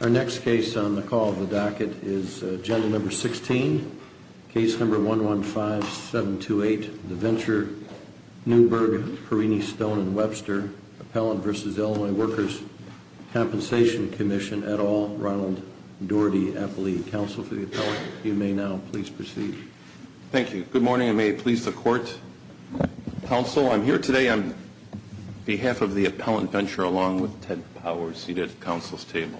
Our next case on the call of the docket is Agenda Number 16, Case Number 115-728, The Venture-Newberg Perini Stone & Webster, Appellant v. Illinois Workers' Compensation Comm'n, et al., Ronald Doherty, Appellee. Counsel for the appellant, if you may now please proceed. Thank you. Good morning, and may it please the Court, Counsel. I'm here today on behalf of the appellant, Venture, along with Ted Powers, seated at the Counsel's Table.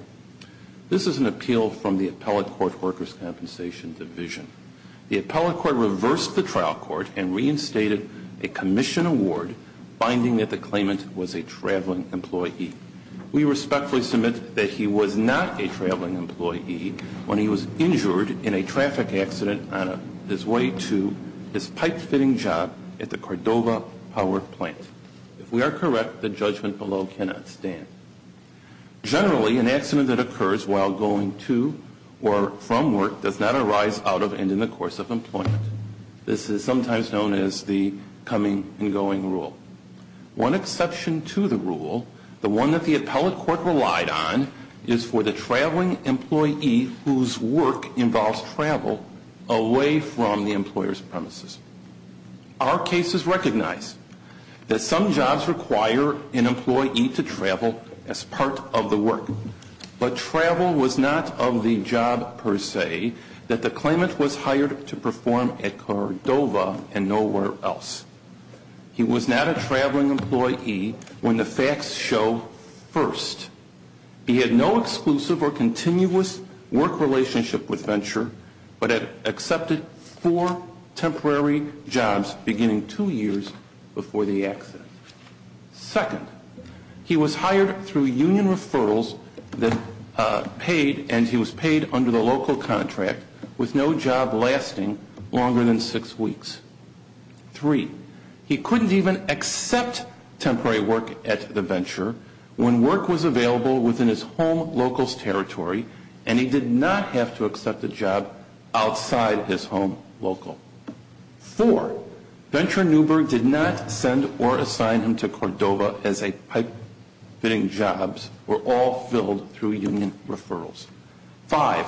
This is an appeal from the Appellate Court Workers' Compensation Division. The Appellate Court reversed the trial court and reinstated a commission award, finding that the claimant was a traveling employee. We respectfully submit that he was not a traveling employee when he was injured in a traffic accident on his way to his pipe-fitting job at the Cordova Power Plant. If we are correct, the judgment below cannot stand. Generally, an accident that occurs while going to or from work does not arise out of and in the course of employment. This is sometimes known as the coming and going rule. One exception to the rule, the one that the Appellate Court relied on, is for the traveling employee whose work involves travel away from the employer's premises. Our cases recognize that some jobs require an employee to travel as part of the work. But travel was not of the job, per se, that the claimant was hired to perform at Cordova and nowhere else. He was not a traveling employee when the facts show, first, he had no exclusive or continuous work relationship with Venture, but had accepted four temporary jobs beginning two years before the accident. Second, he was hired through union referrals and he was paid under the local contract with no job lasting longer than six weeks. Three, he couldn't even accept temporary work at the Venture when work was available within his home local's territory. And he did not have to accept a job outside his home local. Four, Venture Newberg did not send or assign him to Cordova as a pipe fitting jobs were all filled through union referrals. Five,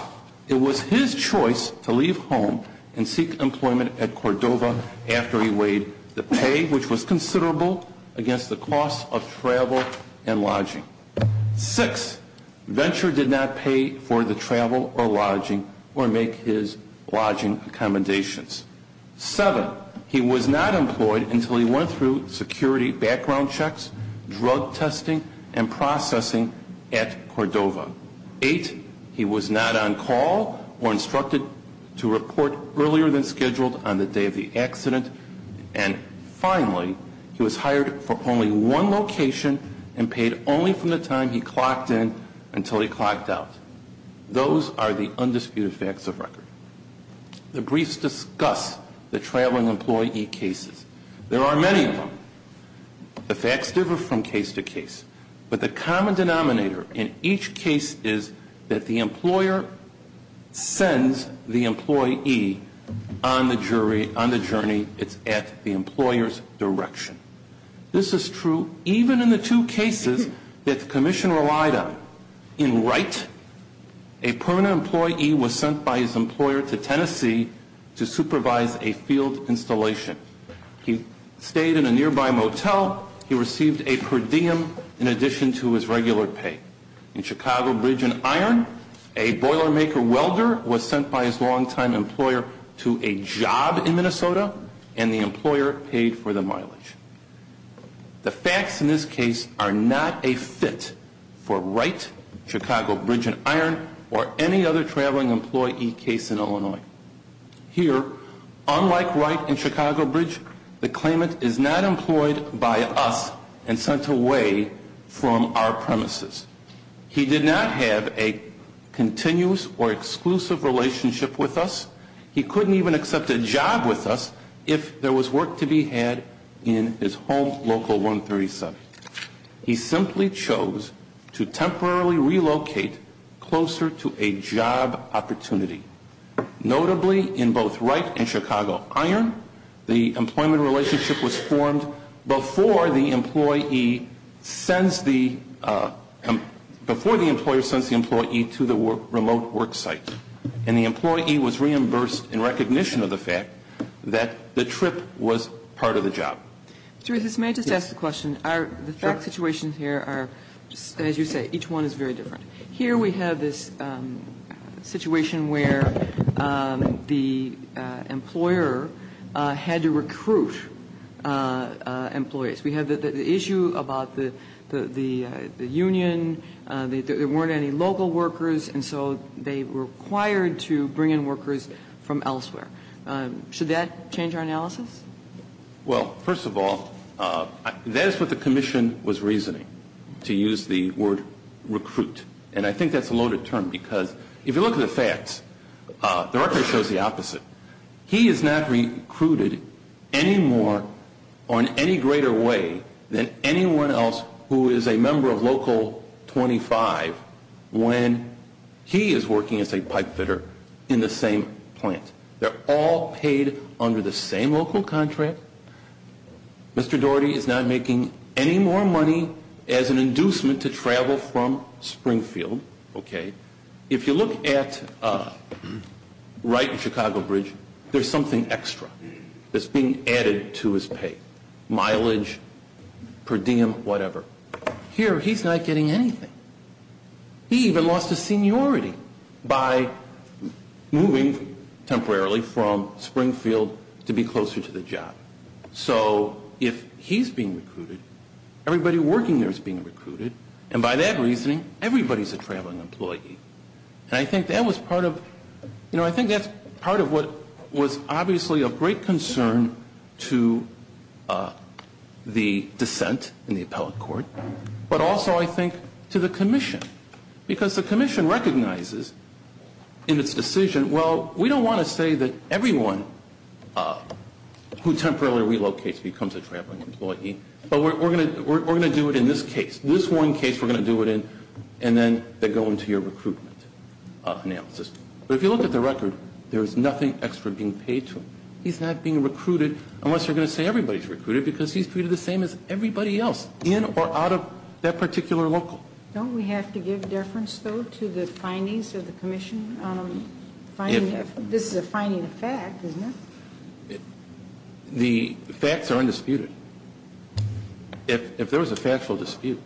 it was his choice to leave home and seek employment at Cordova after he weighed the pay which was considerable against the cost of travel and lodging. Six, Venture did not pay for the travel or lodging or make his lodging accommodations. Seven, he was not employed until he went through security background checks, drug testing, and processing at Cordova. Eight, he was not on call or instructed to report earlier than scheduled on the day of the accident. And finally, he was hired for only one location and paid only from the time he clocked in until he clocked out. Those are the undisputed facts of record. The briefs discuss the traveling employee cases. There are many of them. The facts differ from case to case. But the common denominator in each case is that the employer sends the employee on the journey, it's at the employer's direction. This is true even in the two cases that the commission relied on. In Wright, a permanent employee was sent by his employer to Tennessee to supervise a field installation. He stayed in a nearby motel. He received a per diem in addition to his regular pay. In Chicago Bridge and Iron, a boiler maker welder was sent by his longtime employer to a job in Minnesota, and the employer paid for the mileage. The facts in this case are not a fit for Wright, Chicago Bridge and Iron, or any other traveling employee case in Illinois. Here, unlike Wright and Chicago Bridge, the claimant is not employed by us and sent away from our premises. He did not have a continuous or exclusive relationship with us. He couldn't even accept a job with us if there was work to be had in his home local 137. He simply chose to temporarily relocate closer to a job opportunity. Notably, in both Wright and Chicago Iron, the employment relationship was formed before the employee sends the, before the employer sends the employee to the remote work site. And the employee was reimbursed in recognition of the fact that the trip was part of the job. So if this may just ask the question, the fact situations here are, as you say, each one is very different. Here we have this situation where the employer had to recruit employees. We have the issue about the union, there weren't any local workers, and so they were required to bring in workers from elsewhere. Should that change our analysis? Well, first of all, that is what the commission was reasoning, to use the word recruit. And I think that's a loaded term, because if you look at the facts, the record shows the opposite. He is not recruited any more or in any greater way than anyone else who is a member of local 25 when he is working as a pipe fitter in the same plant. They're all paid under the same local contract. Mr. Doherty is not making any more money as an inducement to travel from Springfield, okay? If you look at right in Chicago Bridge, there's something extra that's being added to his pay, mileage, per diem, whatever. Here, he's not getting anything. He even lost his seniority by moving temporarily from Springfield to be closer to the job. So if he's being recruited, everybody working there is being recruited, and by that reasoning, everybody's a traveling employee. And I think that was part of, I think that's part of what was obviously a great concern to the dissent in the appellate court, but also, I think, to the commission. Because the commission recognizes in its decision, well, we don't want to say that everyone who temporarily relocates becomes a traveling employee. But we're going to do it in this case, this one case we're going to do it in, and then they go into your recruitment analysis. But if you look at the record, there is nothing extra being paid to him. He's not being recruited, unless you're going to say everybody's recruited, because he's treated the same as everybody else, in or out of that particular local. Don't we have to give deference, though, to the findings of the commission on finding, this is a finding of fact, isn't it? The facts are undisputed. If there was a factual dispute,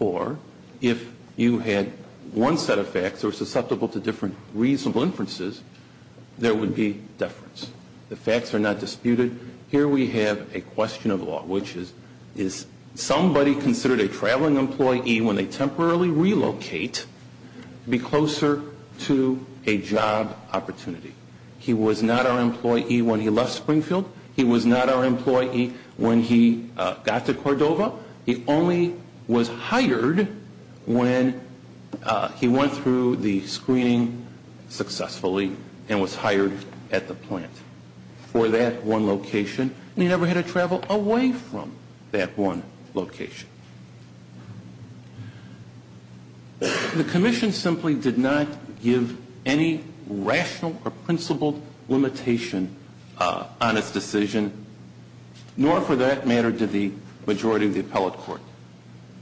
or if you had one set of facts that were susceptible to different reasonable inferences, there would be deference. The facts are not disputed. Here we have a question of law, which is, is somebody considered a traveling employee, when they temporarily relocate, be closer to a job opportunity? He was not our employee when he left Springfield. He was not our employee when he got to Cordova. He only was hired when he went through the screening successfully, and was hired at the plant. For that one location, and he never had to travel away from that one location. The commission simply did not give any rational or principled limitation on its decision. Nor for that matter did the majority of the appellate court.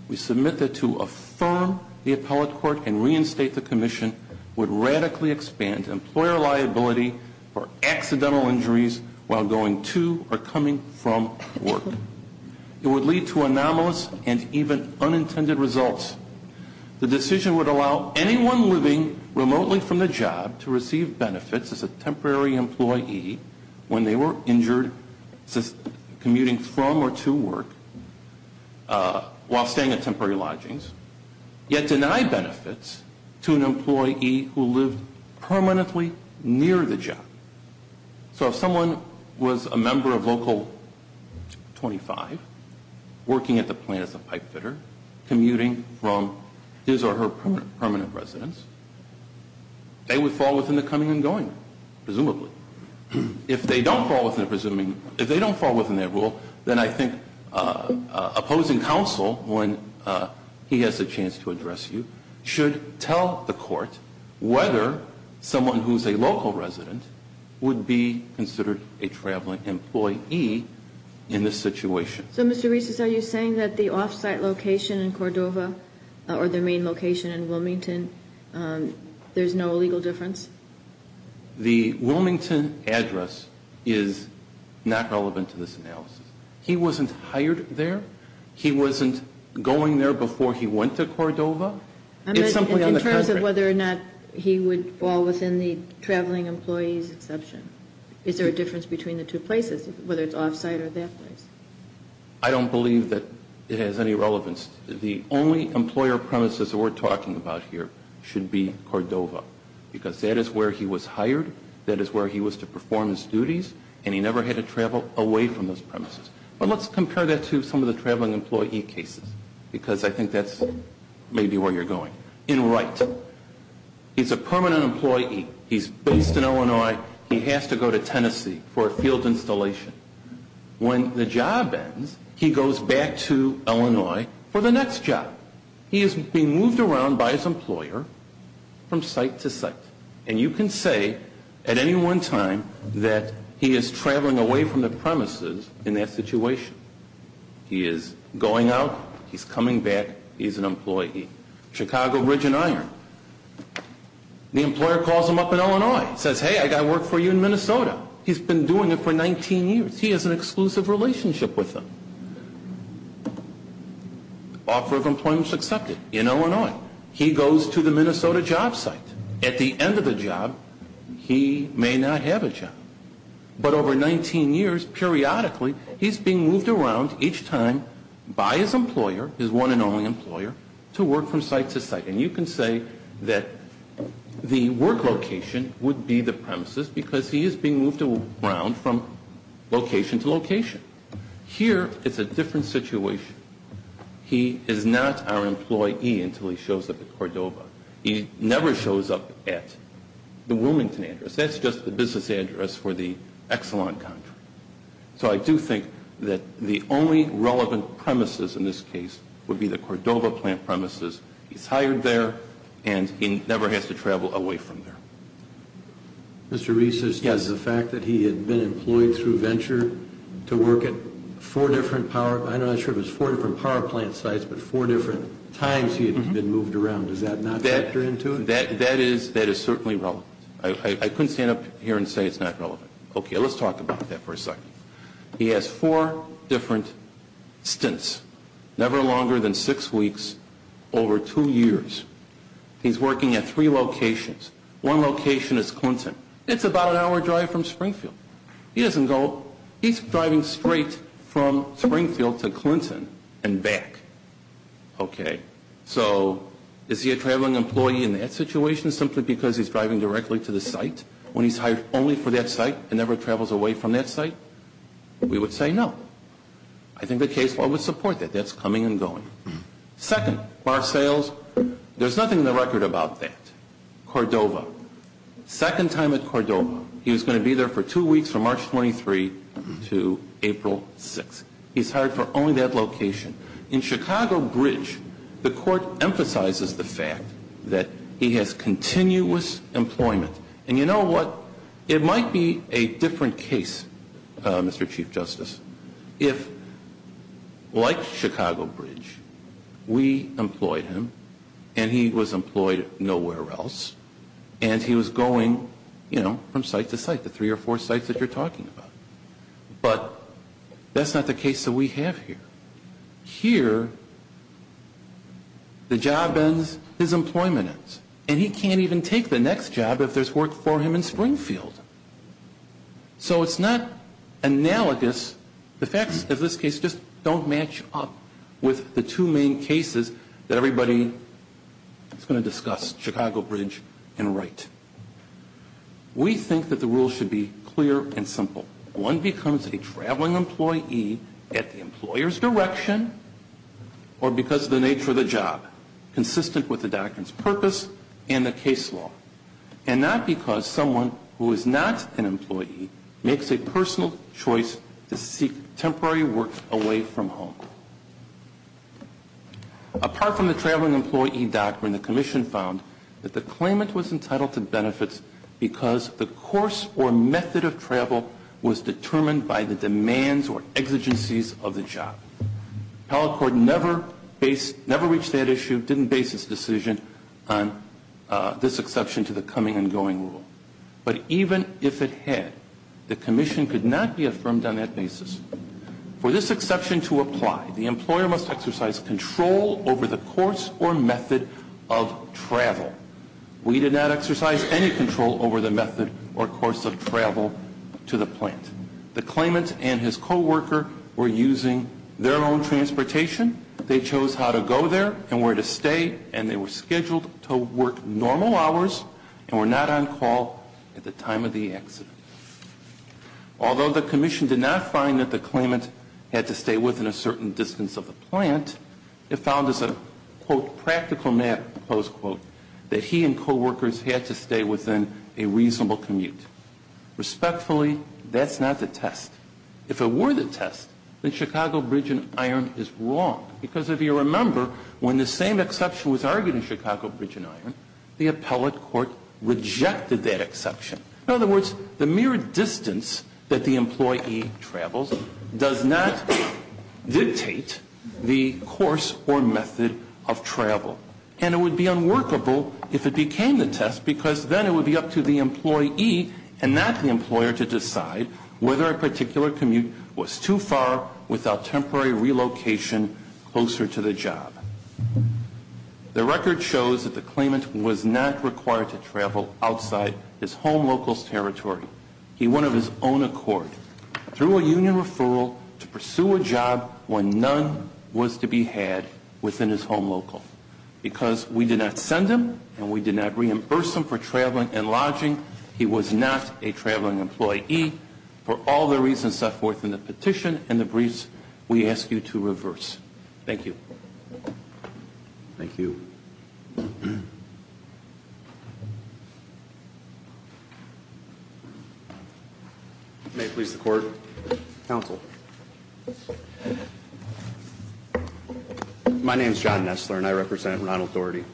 We submit that to affirm the appellate court and reinstate the commission would radically expand employer liability for accidental injuries while going to or coming from work. It would lead to anomalous and even unintended results. The decision would allow anyone living remotely from the job to receive benefits as a temporary employee when they were injured commuting from or to work while staying at temporary lodgings. Yet deny benefits to an employee who lived permanently near the job. So if someone was a member of local 25, working at the plant as a pipe fitter, commuting from his or her permanent residence, they would fall within the coming and going, presumably. If they don't fall within the presuming, if they don't fall within their rule, then I think opposing counsel, when he has a chance to address you, should tell the court whether someone who's a local resident would be considered a traveling employee in this situation. So Mr. Reeses, are you saying that the off-site location in Cordova, or the main location in Wilmington, there's no legal difference? The Wilmington address is not relevant to this analysis. He wasn't hired there. He wasn't going there before he went to Cordova. It's something in the- In terms of whether or not he would fall within the traveling employee's exception. Is there a difference between the two places, whether it's off-site or that place? I don't believe that it has any relevance. The only employer premises that we're talking about here should be Cordova. Because that is where he was hired, that is where he was to perform his duties, and he never had to travel away from those premises. But let's compare that to some of the traveling employee cases, because I think that's maybe where you're going. In Wright, he's a permanent employee. He's based in Illinois. He has to go to Tennessee for a field installation. When the job ends, he goes back to Illinois for the next job. He is being moved around by his employer from site to site. And you can say, at any one time, that he is traveling away from the premises in that situation. He is going out, he's coming back, he's an employee. Chicago, Ridge and Iron. The employer calls him up in Illinois, says, hey, I got work for you in Minnesota. He's been doing it for 19 years. He has an exclusive relationship with them. Offer of employment is accepted in Illinois. He goes to the Minnesota job site. At the end of the job, he may not have a job. But over 19 years, periodically, he's being moved around each time by his employer, his one and only employer, to work from site to site. And you can say that the work location would be the premises, because he is being moved around from location to location. Here, it's a different situation. He is not our employee until he shows up at Cordova. He never shows up at the Wilmington address. That's just the business address for the Exelon contract. So I do think that the only relevant premises in this case would be the Cordova plant premises. He's hired there, and he never has to travel away from there. Mr. Reese, as to the fact that he had been employed through venture to work at four different power, I'm not sure if it's four different power plant sites, but four different times he had been moved around. Does that not factor into it? That is certainly relevant. I couldn't stand up here and say it's not relevant. Okay, let's talk about that for a second. He has four different stints, never longer than six weeks, over two years. He's working at three locations. One location is Clinton. It's about an hour drive from Springfield. He doesn't go, he's driving straight from Springfield to Clinton and back. Okay, so is he a traveling employee in that situation simply because he's driving directly to the site? When he's hired only for that site and never travels away from that site? We would say no. I think the case law would support that. That's coming and going. Second, bar sales, there's nothing in the record about that. Cordova, second time at Cordova, he was going to be there for two weeks from March 23 to April 6th. He's hired for only that location. In Chicago Bridge, the court emphasizes the fact that he has continuous employment. And you know what? It might be a different case, Mr. Chief Justice. If, like Chicago Bridge, we employed him, and he was employed nowhere else, and he was going, you know, from site to site. The three or four sites that you're talking about. But that's not the case that we have here. Here, the job ends, his employment ends. And he can't even take the next job if there's work for him in Springfield. So it's not analogous, the facts of this case just don't match up with the two main cases that everybody is going to discuss, Chicago Bridge and Wright. We think that the rules should be clear and simple. One becomes a traveling employee at the employer's direction or because of the nature of the job. Consistent with the doctrine's purpose and the case law. And not because someone who is not an employee makes a personal choice to seek temporary work away from home. Apart from the traveling employee doctrine, the commission found that the claimant was entitled to benefits because the course or method of travel was determined by the demands or exigencies of the job. Appellate court never reached that issue, didn't base its decision on this exception to the coming and going rule. But even if it had, the commission could not be affirmed on that basis. For this exception to apply, the employer must exercise control over the course or method of travel. We did not exercise any control over the method or course of travel to the plant. The claimant and his co-worker were using their own transportation. They chose how to go there and where to stay. And they were scheduled to work normal hours and were not on call at the time of the accident. Although the commission did not find that the claimant had to stay within a certain distance of the plant, it found as a, quote, practical map, close quote, that he and co-workers had to stay within a reasonable commute. Respectfully, that's not the test. If it were the test, then Chicago Bridge and Iron is wrong. Because if you remember, when the same exception was argued in Chicago Bridge and Iron, the appellate court rejected that exception. In other words, the mere distance that the employee travels does not dictate the course or method of travel. And it would be unworkable if it became the test, because then it would be up to the employee and not the employer to decide whether a particular commute was too far without temporary relocation closer to the job. The record shows that the claimant was not required to travel outside his home local's territory. He went of his own accord, through a union referral, to pursue a job when none was to be had within his home local. Because we did not send him, and we did not reimburse him for traveling and lodging, he was not a traveling employee. For all the reasons set forth in the petition and the briefs, we ask you to reverse. Thank you. Thank you. May it please the court. Counsel. My name's John Nestler and I represent Ronald Doherty.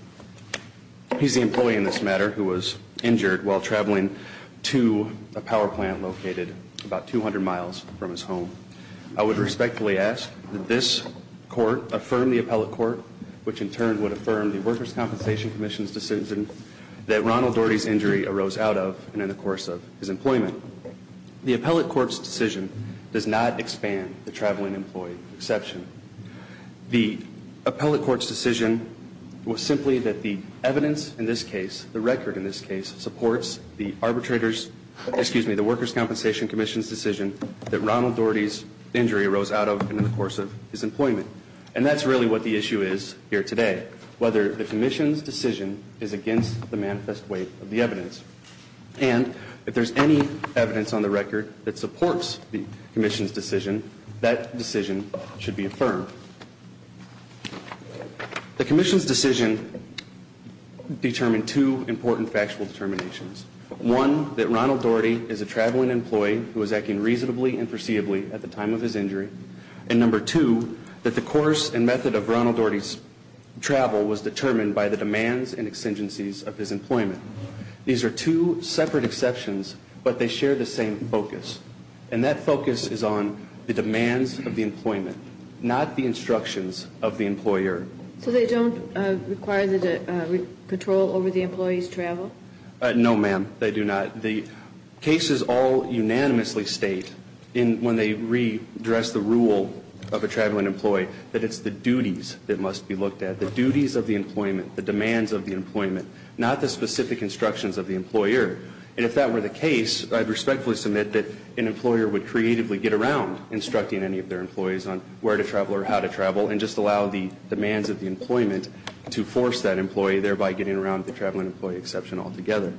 He's the employee in this matter who was injured while traveling to a power plant located about 200 miles from his home. I would respectfully ask that this court affirm the appellate court, which in turn would affirm the Workers' Compensation Commission's decision that Ronald Doherty's injury arose out of and in the course of his employment. The appellate court's decision does not expand the traveling employee exception. The appellate court's decision was simply that the evidence in this case, the record in this case, supports the arbitrator's, excuse me, the Workers' Compensation Commission's decision that Ronald Doherty's injury arose out of and in the course of his employment. And that's really what the issue is here today, whether the commission's decision is against the manifest weight of the evidence. And if there's any evidence on the record that supports the commission's decision, that decision should be affirmed. The commission's decision determined two important factual determinations. One, that Ronald Doherty is a traveling employee who was acting reasonably and foreseeably at the time of his injury. And number two, that the course and method of Ronald Doherty's travel was determined by the demands and exigencies of his employment. These are two separate exceptions, but they share the same focus. And that focus is on the demands of the employment, not the instructions of the employer. So they don't require the control over the employee's travel? No ma'am, they do not. The cases all unanimously state, when they redress the rule of a traveling employee, that it's the duties that must be looked at, the duties of the employment, the demands of the employment. Not the specific instructions of the employer. And if that were the case, I'd respectfully submit that an employer would creatively get around instructing any of their employees on where to travel or how to travel. And just allow the demands of the employment to force that employee, thereby getting around the traveling employee exception altogether.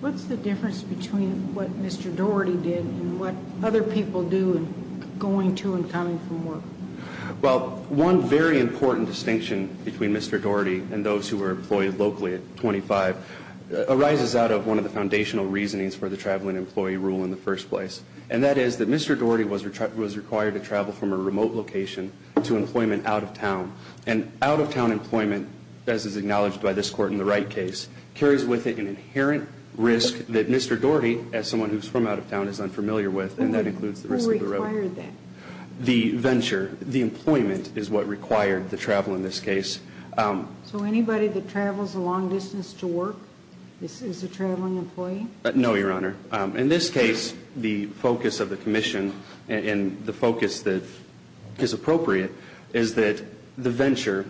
What's the difference between what Mr. Doherty did and what other people do in going to and coming from work? Well, one very important distinction between Mr. Doherty and those who were employed locally at 25, arises out of one of the foundational reasonings for the traveling employee rule in the first place. And that is that Mr. Doherty was required to travel from a remote location to employment out of town. And out of town employment, as is acknowledged by this court in the Wright case, carries with it an inherent risk that Mr. Doherty, as someone who's from out of town, is unfamiliar with. And that includes the risk of- Who required that? The venture, the employment is what required the travel in this case. So anybody that travels a long distance to work is a traveling employee? No, Your Honor. In this case, the focus of the commission and the focus that is appropriate is that the venture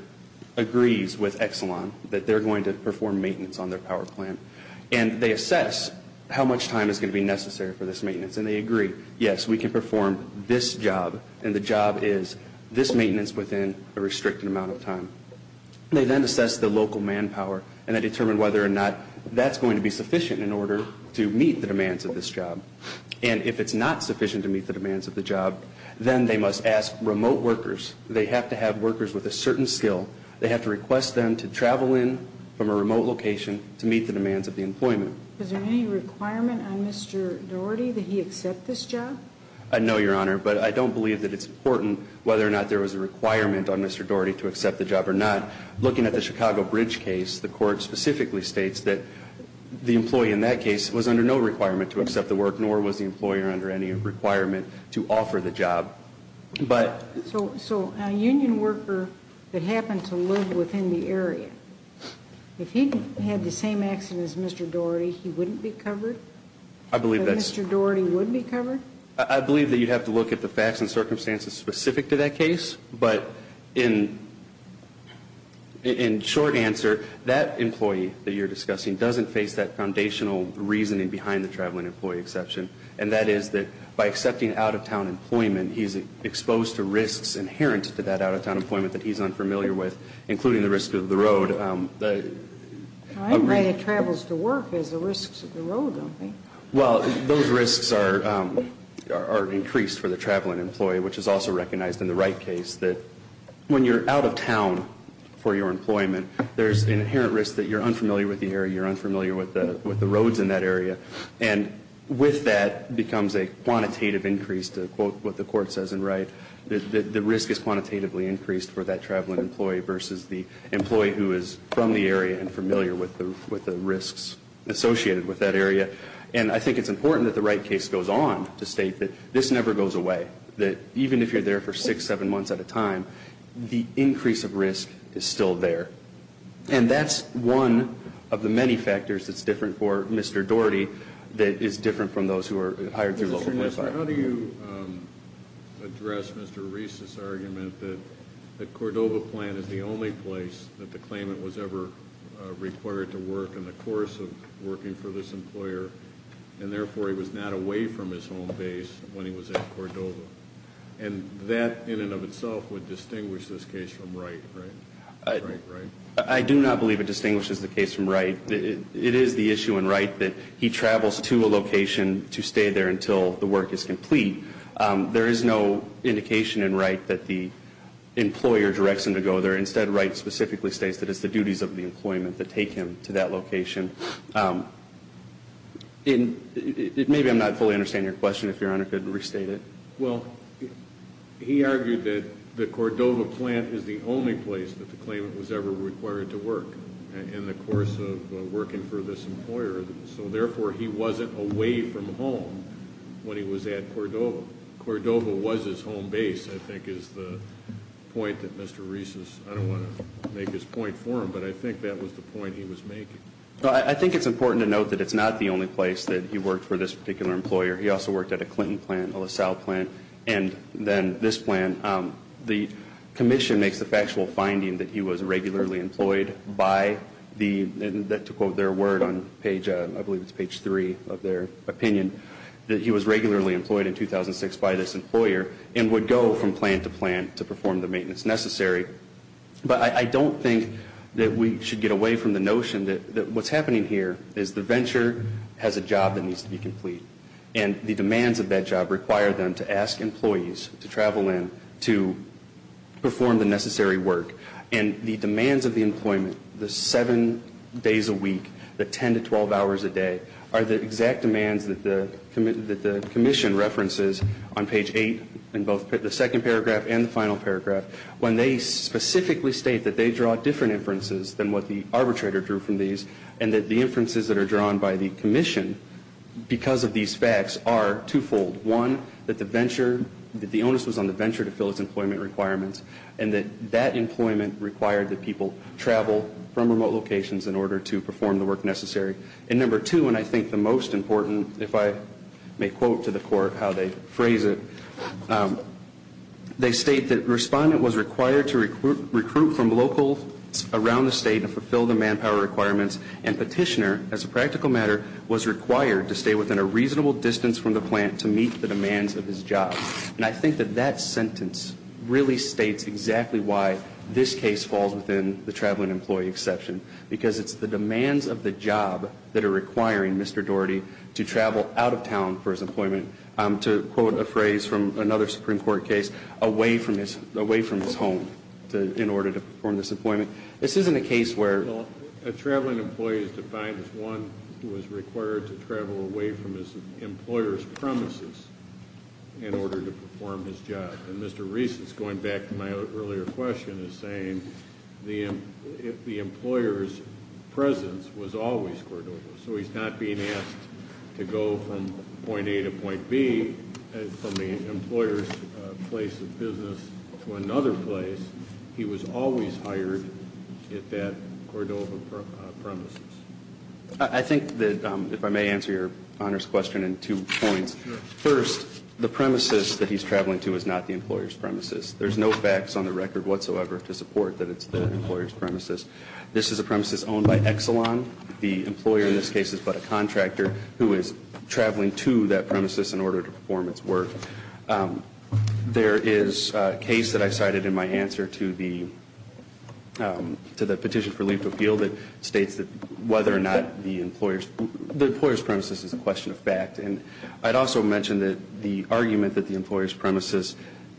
agrees with Exelon that they're going to perform maintenance on their power plant. And they assess how much time is going to be necessary for this maintenance. And they agree, yes, we can perform this job, and the job is this maintenance within a restricted amount of time. They then assess the local manpower and then determine whether or not that's going to be sufficient in order to meet the demands of this job. And if it's not sufficient to meet the demands of the job, then they must ask remote workers. They have to have workers with a certain skill. They have to request them to travel in from a remote location to meet the demands of the employment. Is there any requirement on Mr. Doherty that he accept this job? I know, Your Honor, but I don't believe that it's important whether or not there was a requirement on Mr. Doherty to accept the job or not. Looking at the Chicago Bridge case, the court specifically states that the employee in that case was under no requirement to accept the work, nor was the employer under any requirement to offer the job, but- So a union worker that happened to live within the area, if he had the same accident as Mr. Doherty, he wouldn't be covered? I believe that's- Mr. Doherty would be covered? I believe that you'd have to look at the facts and circumstances specific to that case, but in short answer, that employee that you're discussing doesn't face that foundational reasoning behind the traveling employee exception, and that is that by accepting out-of-town employment, he's exposed to risks inherent to that out-of-town employment that he's unfamiliar with, including the risk of the road. I'm right, it travels to work, there's the risks of the road, don't they? Well, those risks are increased for the traveling employee, which is also recognized in the Wright case that when you're out of town for your employment, there's an inherent risk that you're unfamiliar with the area, you're unfamiliar with the roads in that area. And with that becomes a quantitative increase, to quote what the court says in Wright, that the risk is quantitatively increased for that traveling employee versus the employee who is from the area and familiar with the risks associated with that area. And I think it's important that the Wright case goes on to state that this never goes away, that even if you're there for six, seven months at a time, the increase of risk is still there. And that's one of the many factors that's different for Mr. Doherty that is different from those who are hired through local classified. How do you address Mr. Reese's argument that the Cordova plant is the only place that the claimant was ever required to work in the course of working for this employer? And therefore, he was not away from his home base when he was at Cordova. And that, in and of itself, would distinguish this case from Wright, right? Right, right? I do not believe it distinguishes the case from Wright. It is the issue in Wright that he travels to a location to stay there until the work is complete. There is no indication in Wright that the employer directs him to go there. Instead, Wright specifically states that it's the duties of the employment that take him to that location. And maybe I'm not fully understanding your question, if your honor could restate it. Well, he argued that the Cordova plant is the only place that the claimant was ever required to work. In the course of working for this employer. So therefore, he wasn't away from home when he was at Cordova. Cordova was his home base, I think is the point that Mr. Reese's, I don't want to make his point for him. But I think that was the point he was making. I think it's important to note that it's not the only place that he worked for this particular employer. He also worked at a Clinton plant, a LaSalle plant, and then this plant. The commission makes the factual finding that he was regularly employed by the, to quote their word on page, I believe it's page three of their opinion. That he was regularly employed in 2006 by this employer and would go from plant to plant to perform the maintenance necessary. But I don't think that we should get away from the notion that what's happening here is the venture has a job that needs to be complete. And the demands of that job require them to ask employees to travel in to perform the necessary work. And the demands of the employment, the seven days a week, the ten to twelve hours a day, are the exact demands that the commission references on page eight in both the second paragraph and the final paragraph. When they specifically state that they draw different inferences than what the arbitrator drew from these. And that the inferences that are drawn by the commission, because of these facts, are twofold. One, that the venture, that the onus was on the venture to fill its employment requirements. And that that employment required that people travel from remote locations in order to perform the work necessary. And number two, and I think the most important, if I may quote to the court how they phrase it. They state that respondent was required to recruit from locals around the state and fulfill the manpower requirements. And petitioner, as a practical matter, was required to stay within a reasonable distance from the plant to meet the demands of his job. And I think that that sentence really states exactly why this case falls within the traveling employee exception. Because it's the demands of the job that are requiring Mr. Reese's employment, to quote a phrase from another Supreme Court case, away from his home in order to perform this employment. This isn't a case where- Well, a traveling employee is defined as one who is required to travel away from his employer's premises in order to perform his job. And Mr. Reese, going back to my earlier question, is saying the employer's presence was always Cordova. So he's not being asked to go from point A to point B, from the employer's place of business to another place. He was always hired at that Cordova premises. I think that, if I may answer your Honor's question in two points. First, the premises that he's traveling to is not the employer's premises. There's no facts on the record whatsoever to support that it's the employer's premises. This is a premises owned by Exelon. The employer in this case is but a contractor who is traveling to that premises in order to perform its work. There is a case that I cited in my answer to the petition for leave to appeal that states that whether or not the employer's premises is a question of fact. And I'd also mention that the argument that the employer's premises,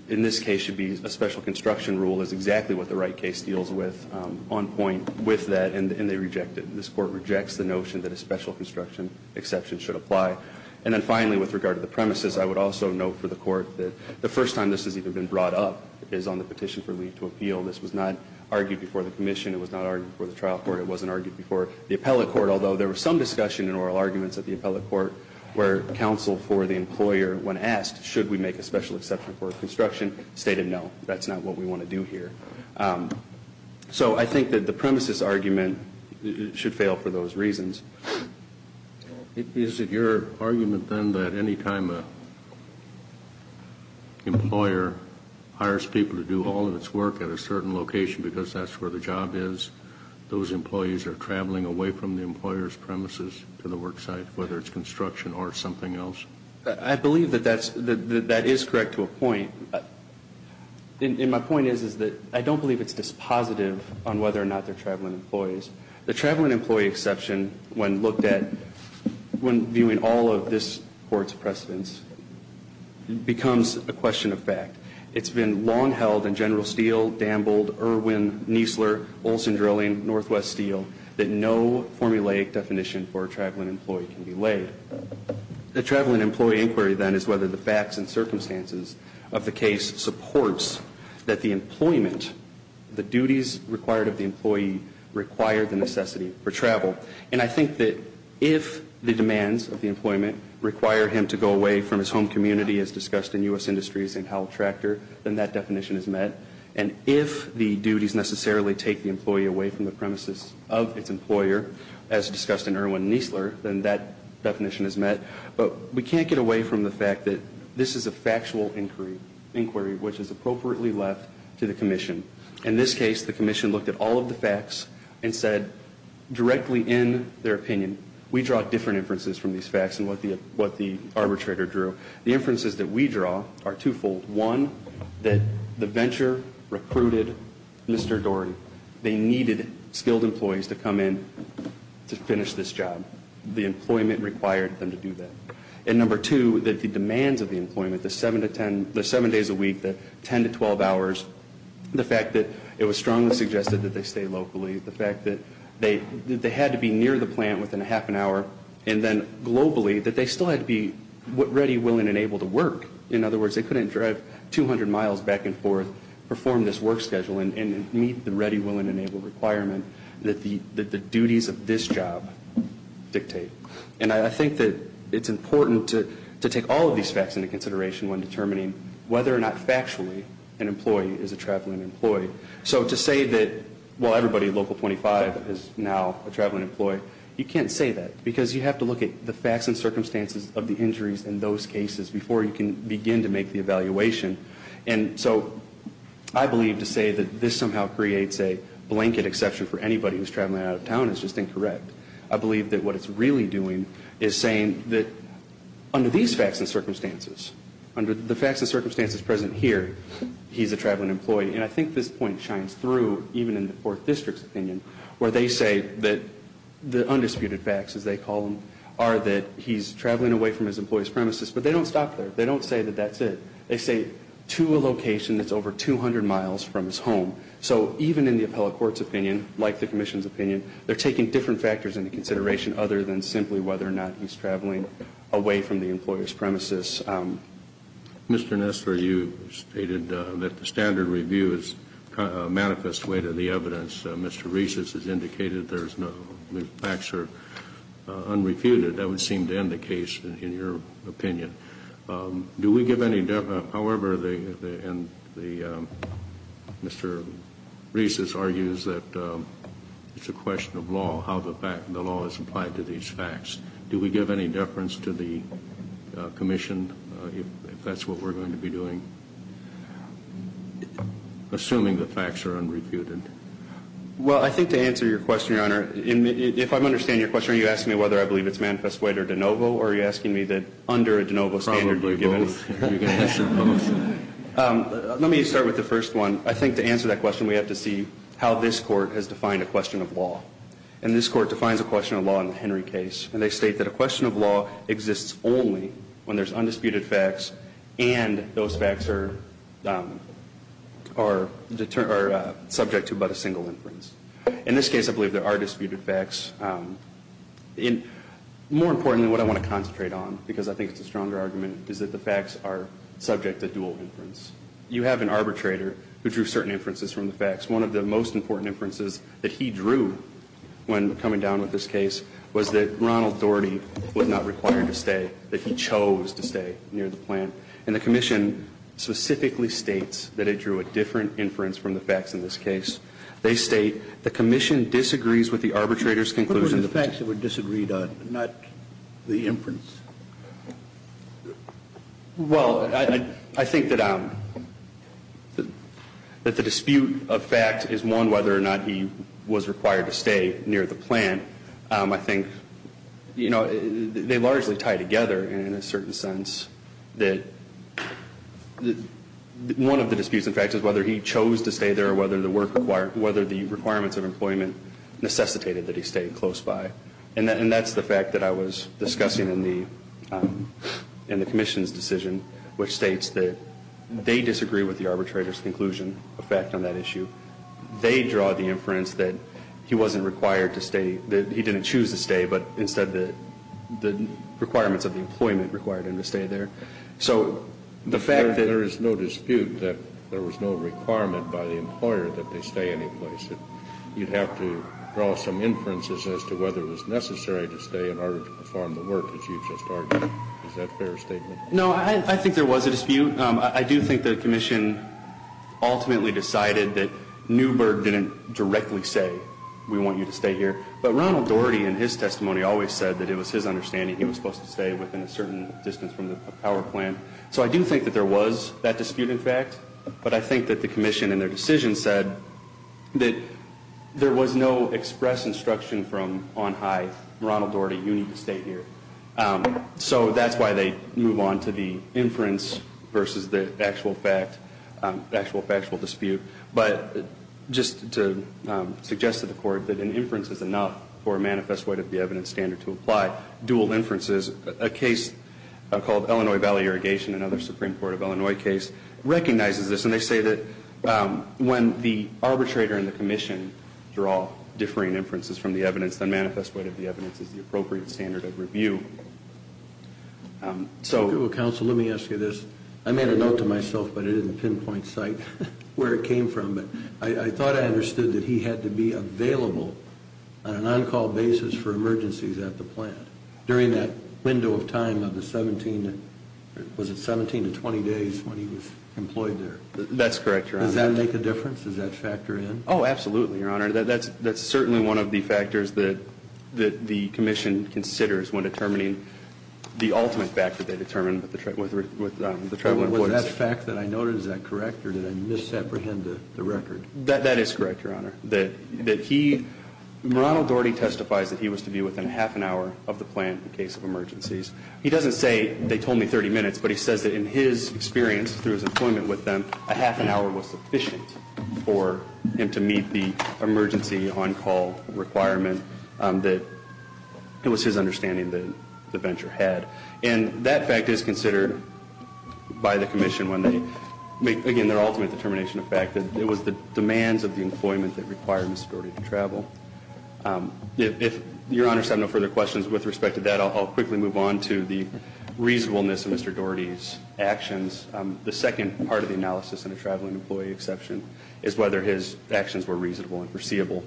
in this case, should be a special construction rule is exactly what the right case deals with on point with that. And they reject it. This court rejects the notion that a special construction exception should apply. And then finally, with regard to the premises, I would also note for the court that the first time this has even been brought up is on the petition for leave to appeal. This was not argued before the commission, it was not argued before the trial court, it wasn't argued before the appellate court. Although there was some discussion and oral arguments at the appellate court where counsel for the employer, when asked, should we make a special exception for construction, stated no, that's not what we want to do here. So I think that the premises argument should fail for those reasons. Is it your argument then that any time an employer hires people to do all of its work at a certain location because that's where the job is, those employees are traveling away from the employer's premises to the work site, whether it's construction or something else? And my point is, is that I don't believe it's dispositive on whether or not they're traveling employees. The traveling employee exception, when viewed in all of this court's precedence, becomes a question of fact. It's been long held in General Steel, Dambold, Irwin, Niesler, Olson Drilling, Northwest Steel, that no formulaic definition for a traveling employee can be laid. The traveling employee inquiry then is whether the facts and circumstances of the case supports that the employment, the duties required of the employee, require the necessity for travel. And I think that if the demands of the employment require him to go away from his home community, as discussed in U.S. Industries and Howell Tractor, then that definition is met. And if the duties necessarily take the employee away from the premises of its employer, as discussed in Irwin and Niesler, then that definition is met. But we can't get away from the fact that this is a factual inquiry, which is appropriately left to the commission. In this case, the commission looked at all of the facts and said, directly in their opinion, we draw different inferences from these facts than what the arbitrator drew. The inferences that we draw are twofold. One, that the venture recruited Mr. Doran. They needed skilled employees to come in to finish this job. The employment required them to do that. And number two, that the demands of the employment, the seven days a week, the ten to twelve hours. The fact that it was strongly suggested that they stay locally. The fact that they had to be near the plant within a half an hour. And then globally, that they still had to be ready, willing, and able to work. In other words, they couldn't drive 200 miles back and forth, perform this work schedule, and meet the ready, willing, and able requirement that the duties of this job dictate. And I think that it's important to take all of these facts into consideration when determining whether or not factually an employee is a traveling employee. So to say that, well, everybody at Local 25 is now a traveling employee. You can't say that, because you have to look at the facts and begin to make the evaluation. And so I believe to say that this somehow creates a blanket exception for anybody who's traveling out of town is just incorrect. I believe that what it's really doing is saying that under these facts and circumstances, under the facts and circumstances present here, he's a traveling employee. And I think this point shines through, even in the fourth district's opinion, where they say that the undisputed facts, as they call them, are that he's traveling away from his employee's premises. But they don't stop there. They don't say that that's it. They say, to a location that's over 200 miles from his home. So even in the appellate court's opinion, like the commission's opinion, they're taking different factors into consideration other than simply whether or not he's traveling away from the employer's premises. Mr. Nesler, you stated that the standard review is a manifest way to the evidence. Mr. Reese's has indicated there's no, the facts are unrefuted. That would seem to end the case, in your opinion. Do we give any, however, the Mr. Reese's argues that it's a question of law, how the law is applied to these facts. Do we give any deference to the commission, if that's what we're going to be doing? Assuming the facts are unrefuted. Well, I think to answer your question, Your Honor, if I understand your question, you're asking me whether I believe it's manifest way or de novo, or you're asking me that under a de novo standard, do you give any? Probably both. You can answer both. Let me start with the first one. I think to answer that question, we have to see how this court has defined a question of law, and this court defines a question of law in the Henry case, and they state that a question of law exists only when there's undisputed facts and those facts are subject to but a single inference. In this case, I believe there are disputed facts. More importantly, what I want to concentrate on, because I think it's a stronger argument, is that the facts are subject to dual inference. You have an arbitrator who drew certain inferences from the facts. One of the most important inferences that he drew when coming down with this case was that Ronald Doherty was not required to stay, that he chose to stay near the plant. And the commission specifically states that it drew a different inference from the facts in this case. They state, the commission disagrees with the arbitrator's conclusion. What were the facts that were disagreed on, not the inference? Well, I think that the dispute of fact is one, whether or not he was required to stay near the plant. I think they largely tie together in a certain sense, that one of the disputes in fact is whether he chose to stay there or whether the requirements of employment necessitated that he stay close by. And that's the fact that I was discussing in the commission's decision, which states that they disagree with the arbitrator's conclusion effect on that issue. They draw the inference that he wasn't required to stay, that he didn't choose to stay there. So the fact that- There is no dispute that there was no requirement by the employer that they stay any place, that you'd have to draw some inferences as to whether it was necessary to stay in order to perform the work that you've just argued. Is that a fair statement? No, I think there was a dispute. I do think the commission ultimately decided that Newberg didn't directly say we want you to stay here. But Ronald Doherty in his testimony always said that it was his understanding he was supposed to stay within a certain distance from the power plant. So I do think that there was that dispute in fact. But I think that the commission in their decision said that there was no express instruction from on high, Ronald Doherty, you need to stay here. So that's why they move on to the inference versus the actual fact, actual factual dispute. But just to suggest to the court that an inference is enough for a case called Illinois Valley Irrigation, another Supreme Court of Illinois case, recognizes this, and they say that when the arbitrator and the commission draw differing inferences from the evidence, the manifest weight of the evidence is the appropriate standard of review. So- Counsel, let me ask you this. I made a note to myself, but I didn't pinpoint site where it came from. I thought I understood that he had to be available on an on-call basis for during that window of time of the 17, was it 17 to 20 days when he was employed there? That's correct, Your Honor. Does that make a difference? Does that factor in? Absolutely, Your Honor. That's certainly one of the factors that the commission considers when determining the ultimate factor they determine with the tribal employees. Was that fact that I noted, is that correct? Or did I misapprehend the record? That is correct, Your Honor. That he, Ronald Doherty testifies that he was to be within a half an hour of the plant in case of emergencies. He doesn't say they told me 30 minutes, but he says that in his experience through his employment with them, a half an hour was sufficient for him to meet the emergency on-call requirement that it was his understanding that the venture had. And that fact is considered by the commission when they make, again, their ultimate determination of fact that it was the demands of the employment that required Mr. Doherty to travel. If Your Honor's have no further questions with respect to that, I'll quickly move on to the reasonableness of Mr. Doherty's actions. The second part of the analysis in a traveling employee exception is whether his actions were reasonable and foreseeable.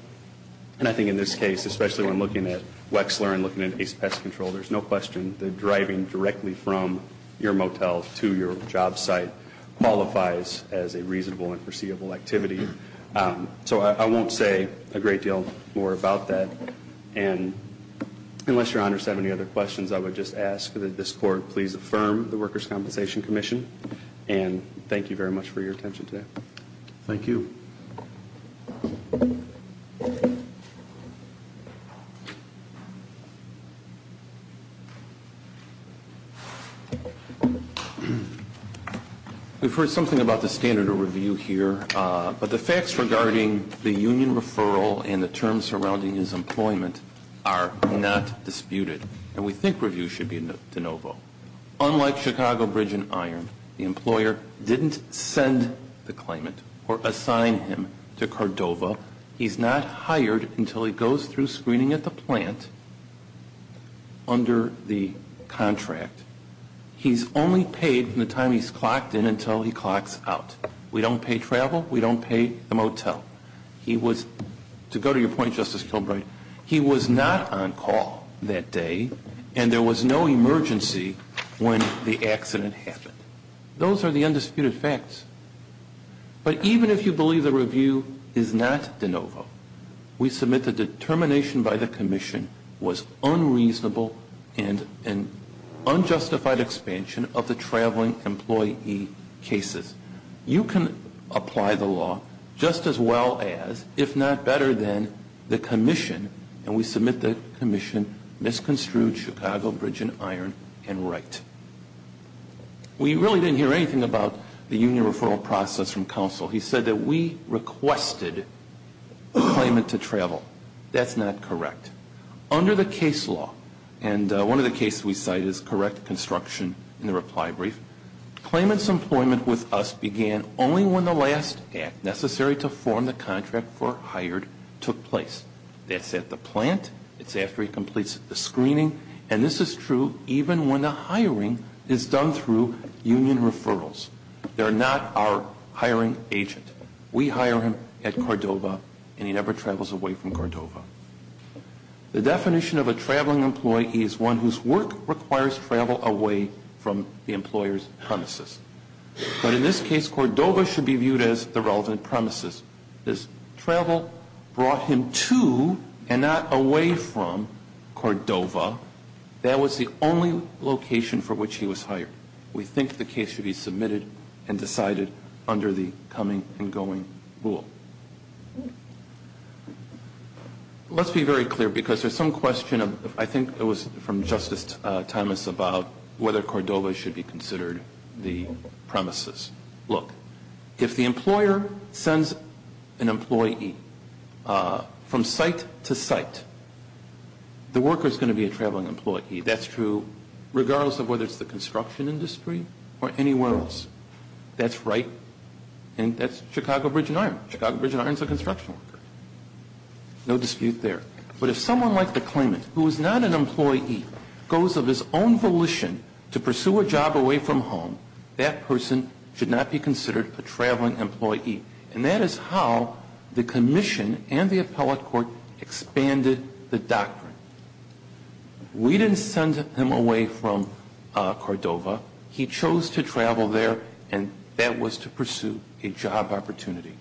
And I think in this case, especially when looking at Wexler and looking at his pest control, there's no question that driving directly from your motel to your job site qualifies as a reasonable and foreseeable activity. So I won't say a great deal more about that. And unless Your Honor's have any other questions, I would just ask that this court please affirm the Workers' Compensation Commission. And thank you very much for your attention today. Thank you. We've heard something about the standard of review here, but the facts regarding the union referral and the terms surrounding his employment are not disputed. And we think review should be de novo. Unlike Chicago Bridge and Iron, the employer didn't send the claimant or assign him to Cordova. He's not hired until he goes through screening at the plant under the contract. He's only paid from the time he's clocked in until he clocks out. We don't pay travel. We don't pay the motel. He was, to go to your point Justice Kilbride, he was not on call that day. And there was no emergency when the accident happened. Those are the undisputed facts. But even if you believe the review is not de novo, we submit the determination by the commission was unreasonable and an unjustified expansion of the traveling employee cases. You can apply the law just as well as, if not better than, the commission. And we submit the commission misconstrued Chicago Bridge and Iron and right. We really didn't hear anything about the union referral process from council. He said that we requested the claimant to travel. That's not correct. Under the case law, and one of the cases we cite is correct construction in the reply brief. Claimant's employment with us began only when the last act necessary to form the contract for hired took place. That's at the plant. It's after he completes the screening. And this is true even when the hiring is done through union referrals. They're not our hiring agent. We hire him at Cordova and he never travels away from Cordova. The definition of a traveling employee is one whose work requires travel away from the employer's premises. But in this case, Cordova should be viewed as the relevant premises. This travel brought him to and not away from Cordova. That was the only location for which he was hired. We think the case should be submitted and decided under the coming and going rule. Let's be very clear because there's some question, I think it was from Justice Thomas about whether Cordova should be considered the premises. Look, if the employer sends an employee from site to site, the worker's going to be a traveling employee. That's true regardless of whether it's the construction industry or anywhere else. That's right, and that's Chicago Bridge and Iron. Chicago Bridge and Iron's a construction worker, no dispute there. But if someone like the claimant, who is not an employee, goes of his own volition to pursue a job away from home, that person should not be considered a traveling employee. And that is how the commission and the appellate court expanded the doctrine. We didn't send him away from Cordova. He chose to travel there, and that was to pursue a job opportunity.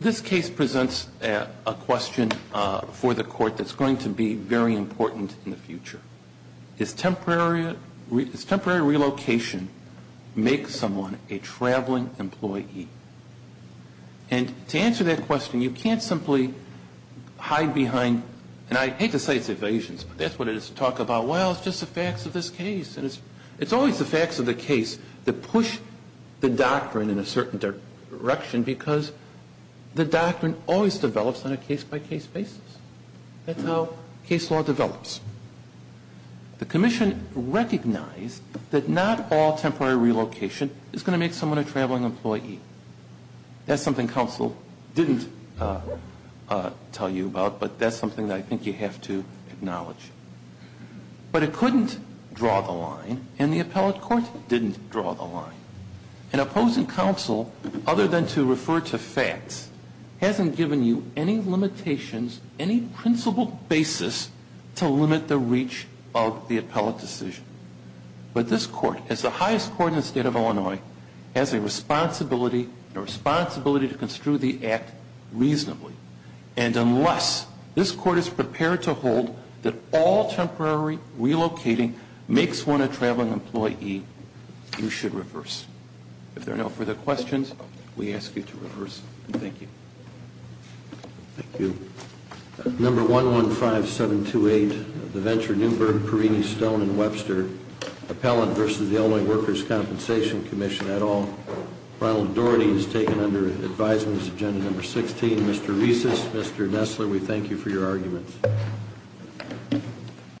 This case presents a question for the court that's going to be very important in the future. Is temporary relocation make someone a traveling employee? And to answer that question, you can't simply hide behind, and I hate to say it's evasions, but that's what it is to talk about, well, it's just the facts of this case. And it's always the facts of the case that push the doctrine in a certain direction, because the doctrine always develops on a case by case basis. That's how case law develops. The commission recognized that not all temporary relocation is going to make someone a traveling employee. That's something counsel didn't tell you about, but that's something that I think you have to acknowledge. But it couldn't draw the line, and the appellate court didn't draw the line. An opposing counsel, other than to refer to facts, hasn't given you any limitations, any principled basis to limit the reach of the appellate decision. But this court, as the highest court in the state of Illinois, has a responsibility to construe the act reasonably. And unless this court is prepared to hold that all temporary relocating makes one a traveling employee, you should reverse. If there are no further questions, we ask you to reverse. Thank you. Thank you. Number 115728, DeVenture, Newberg, Perini, Stone, and Webster. Appellant versus the Illinois Workers' Compensation Commission, et al. Ronald Doherty is taken under advisement, this is agenda number 16. Mr. Reeses, Mr. Nestler, we thank you for your arguments.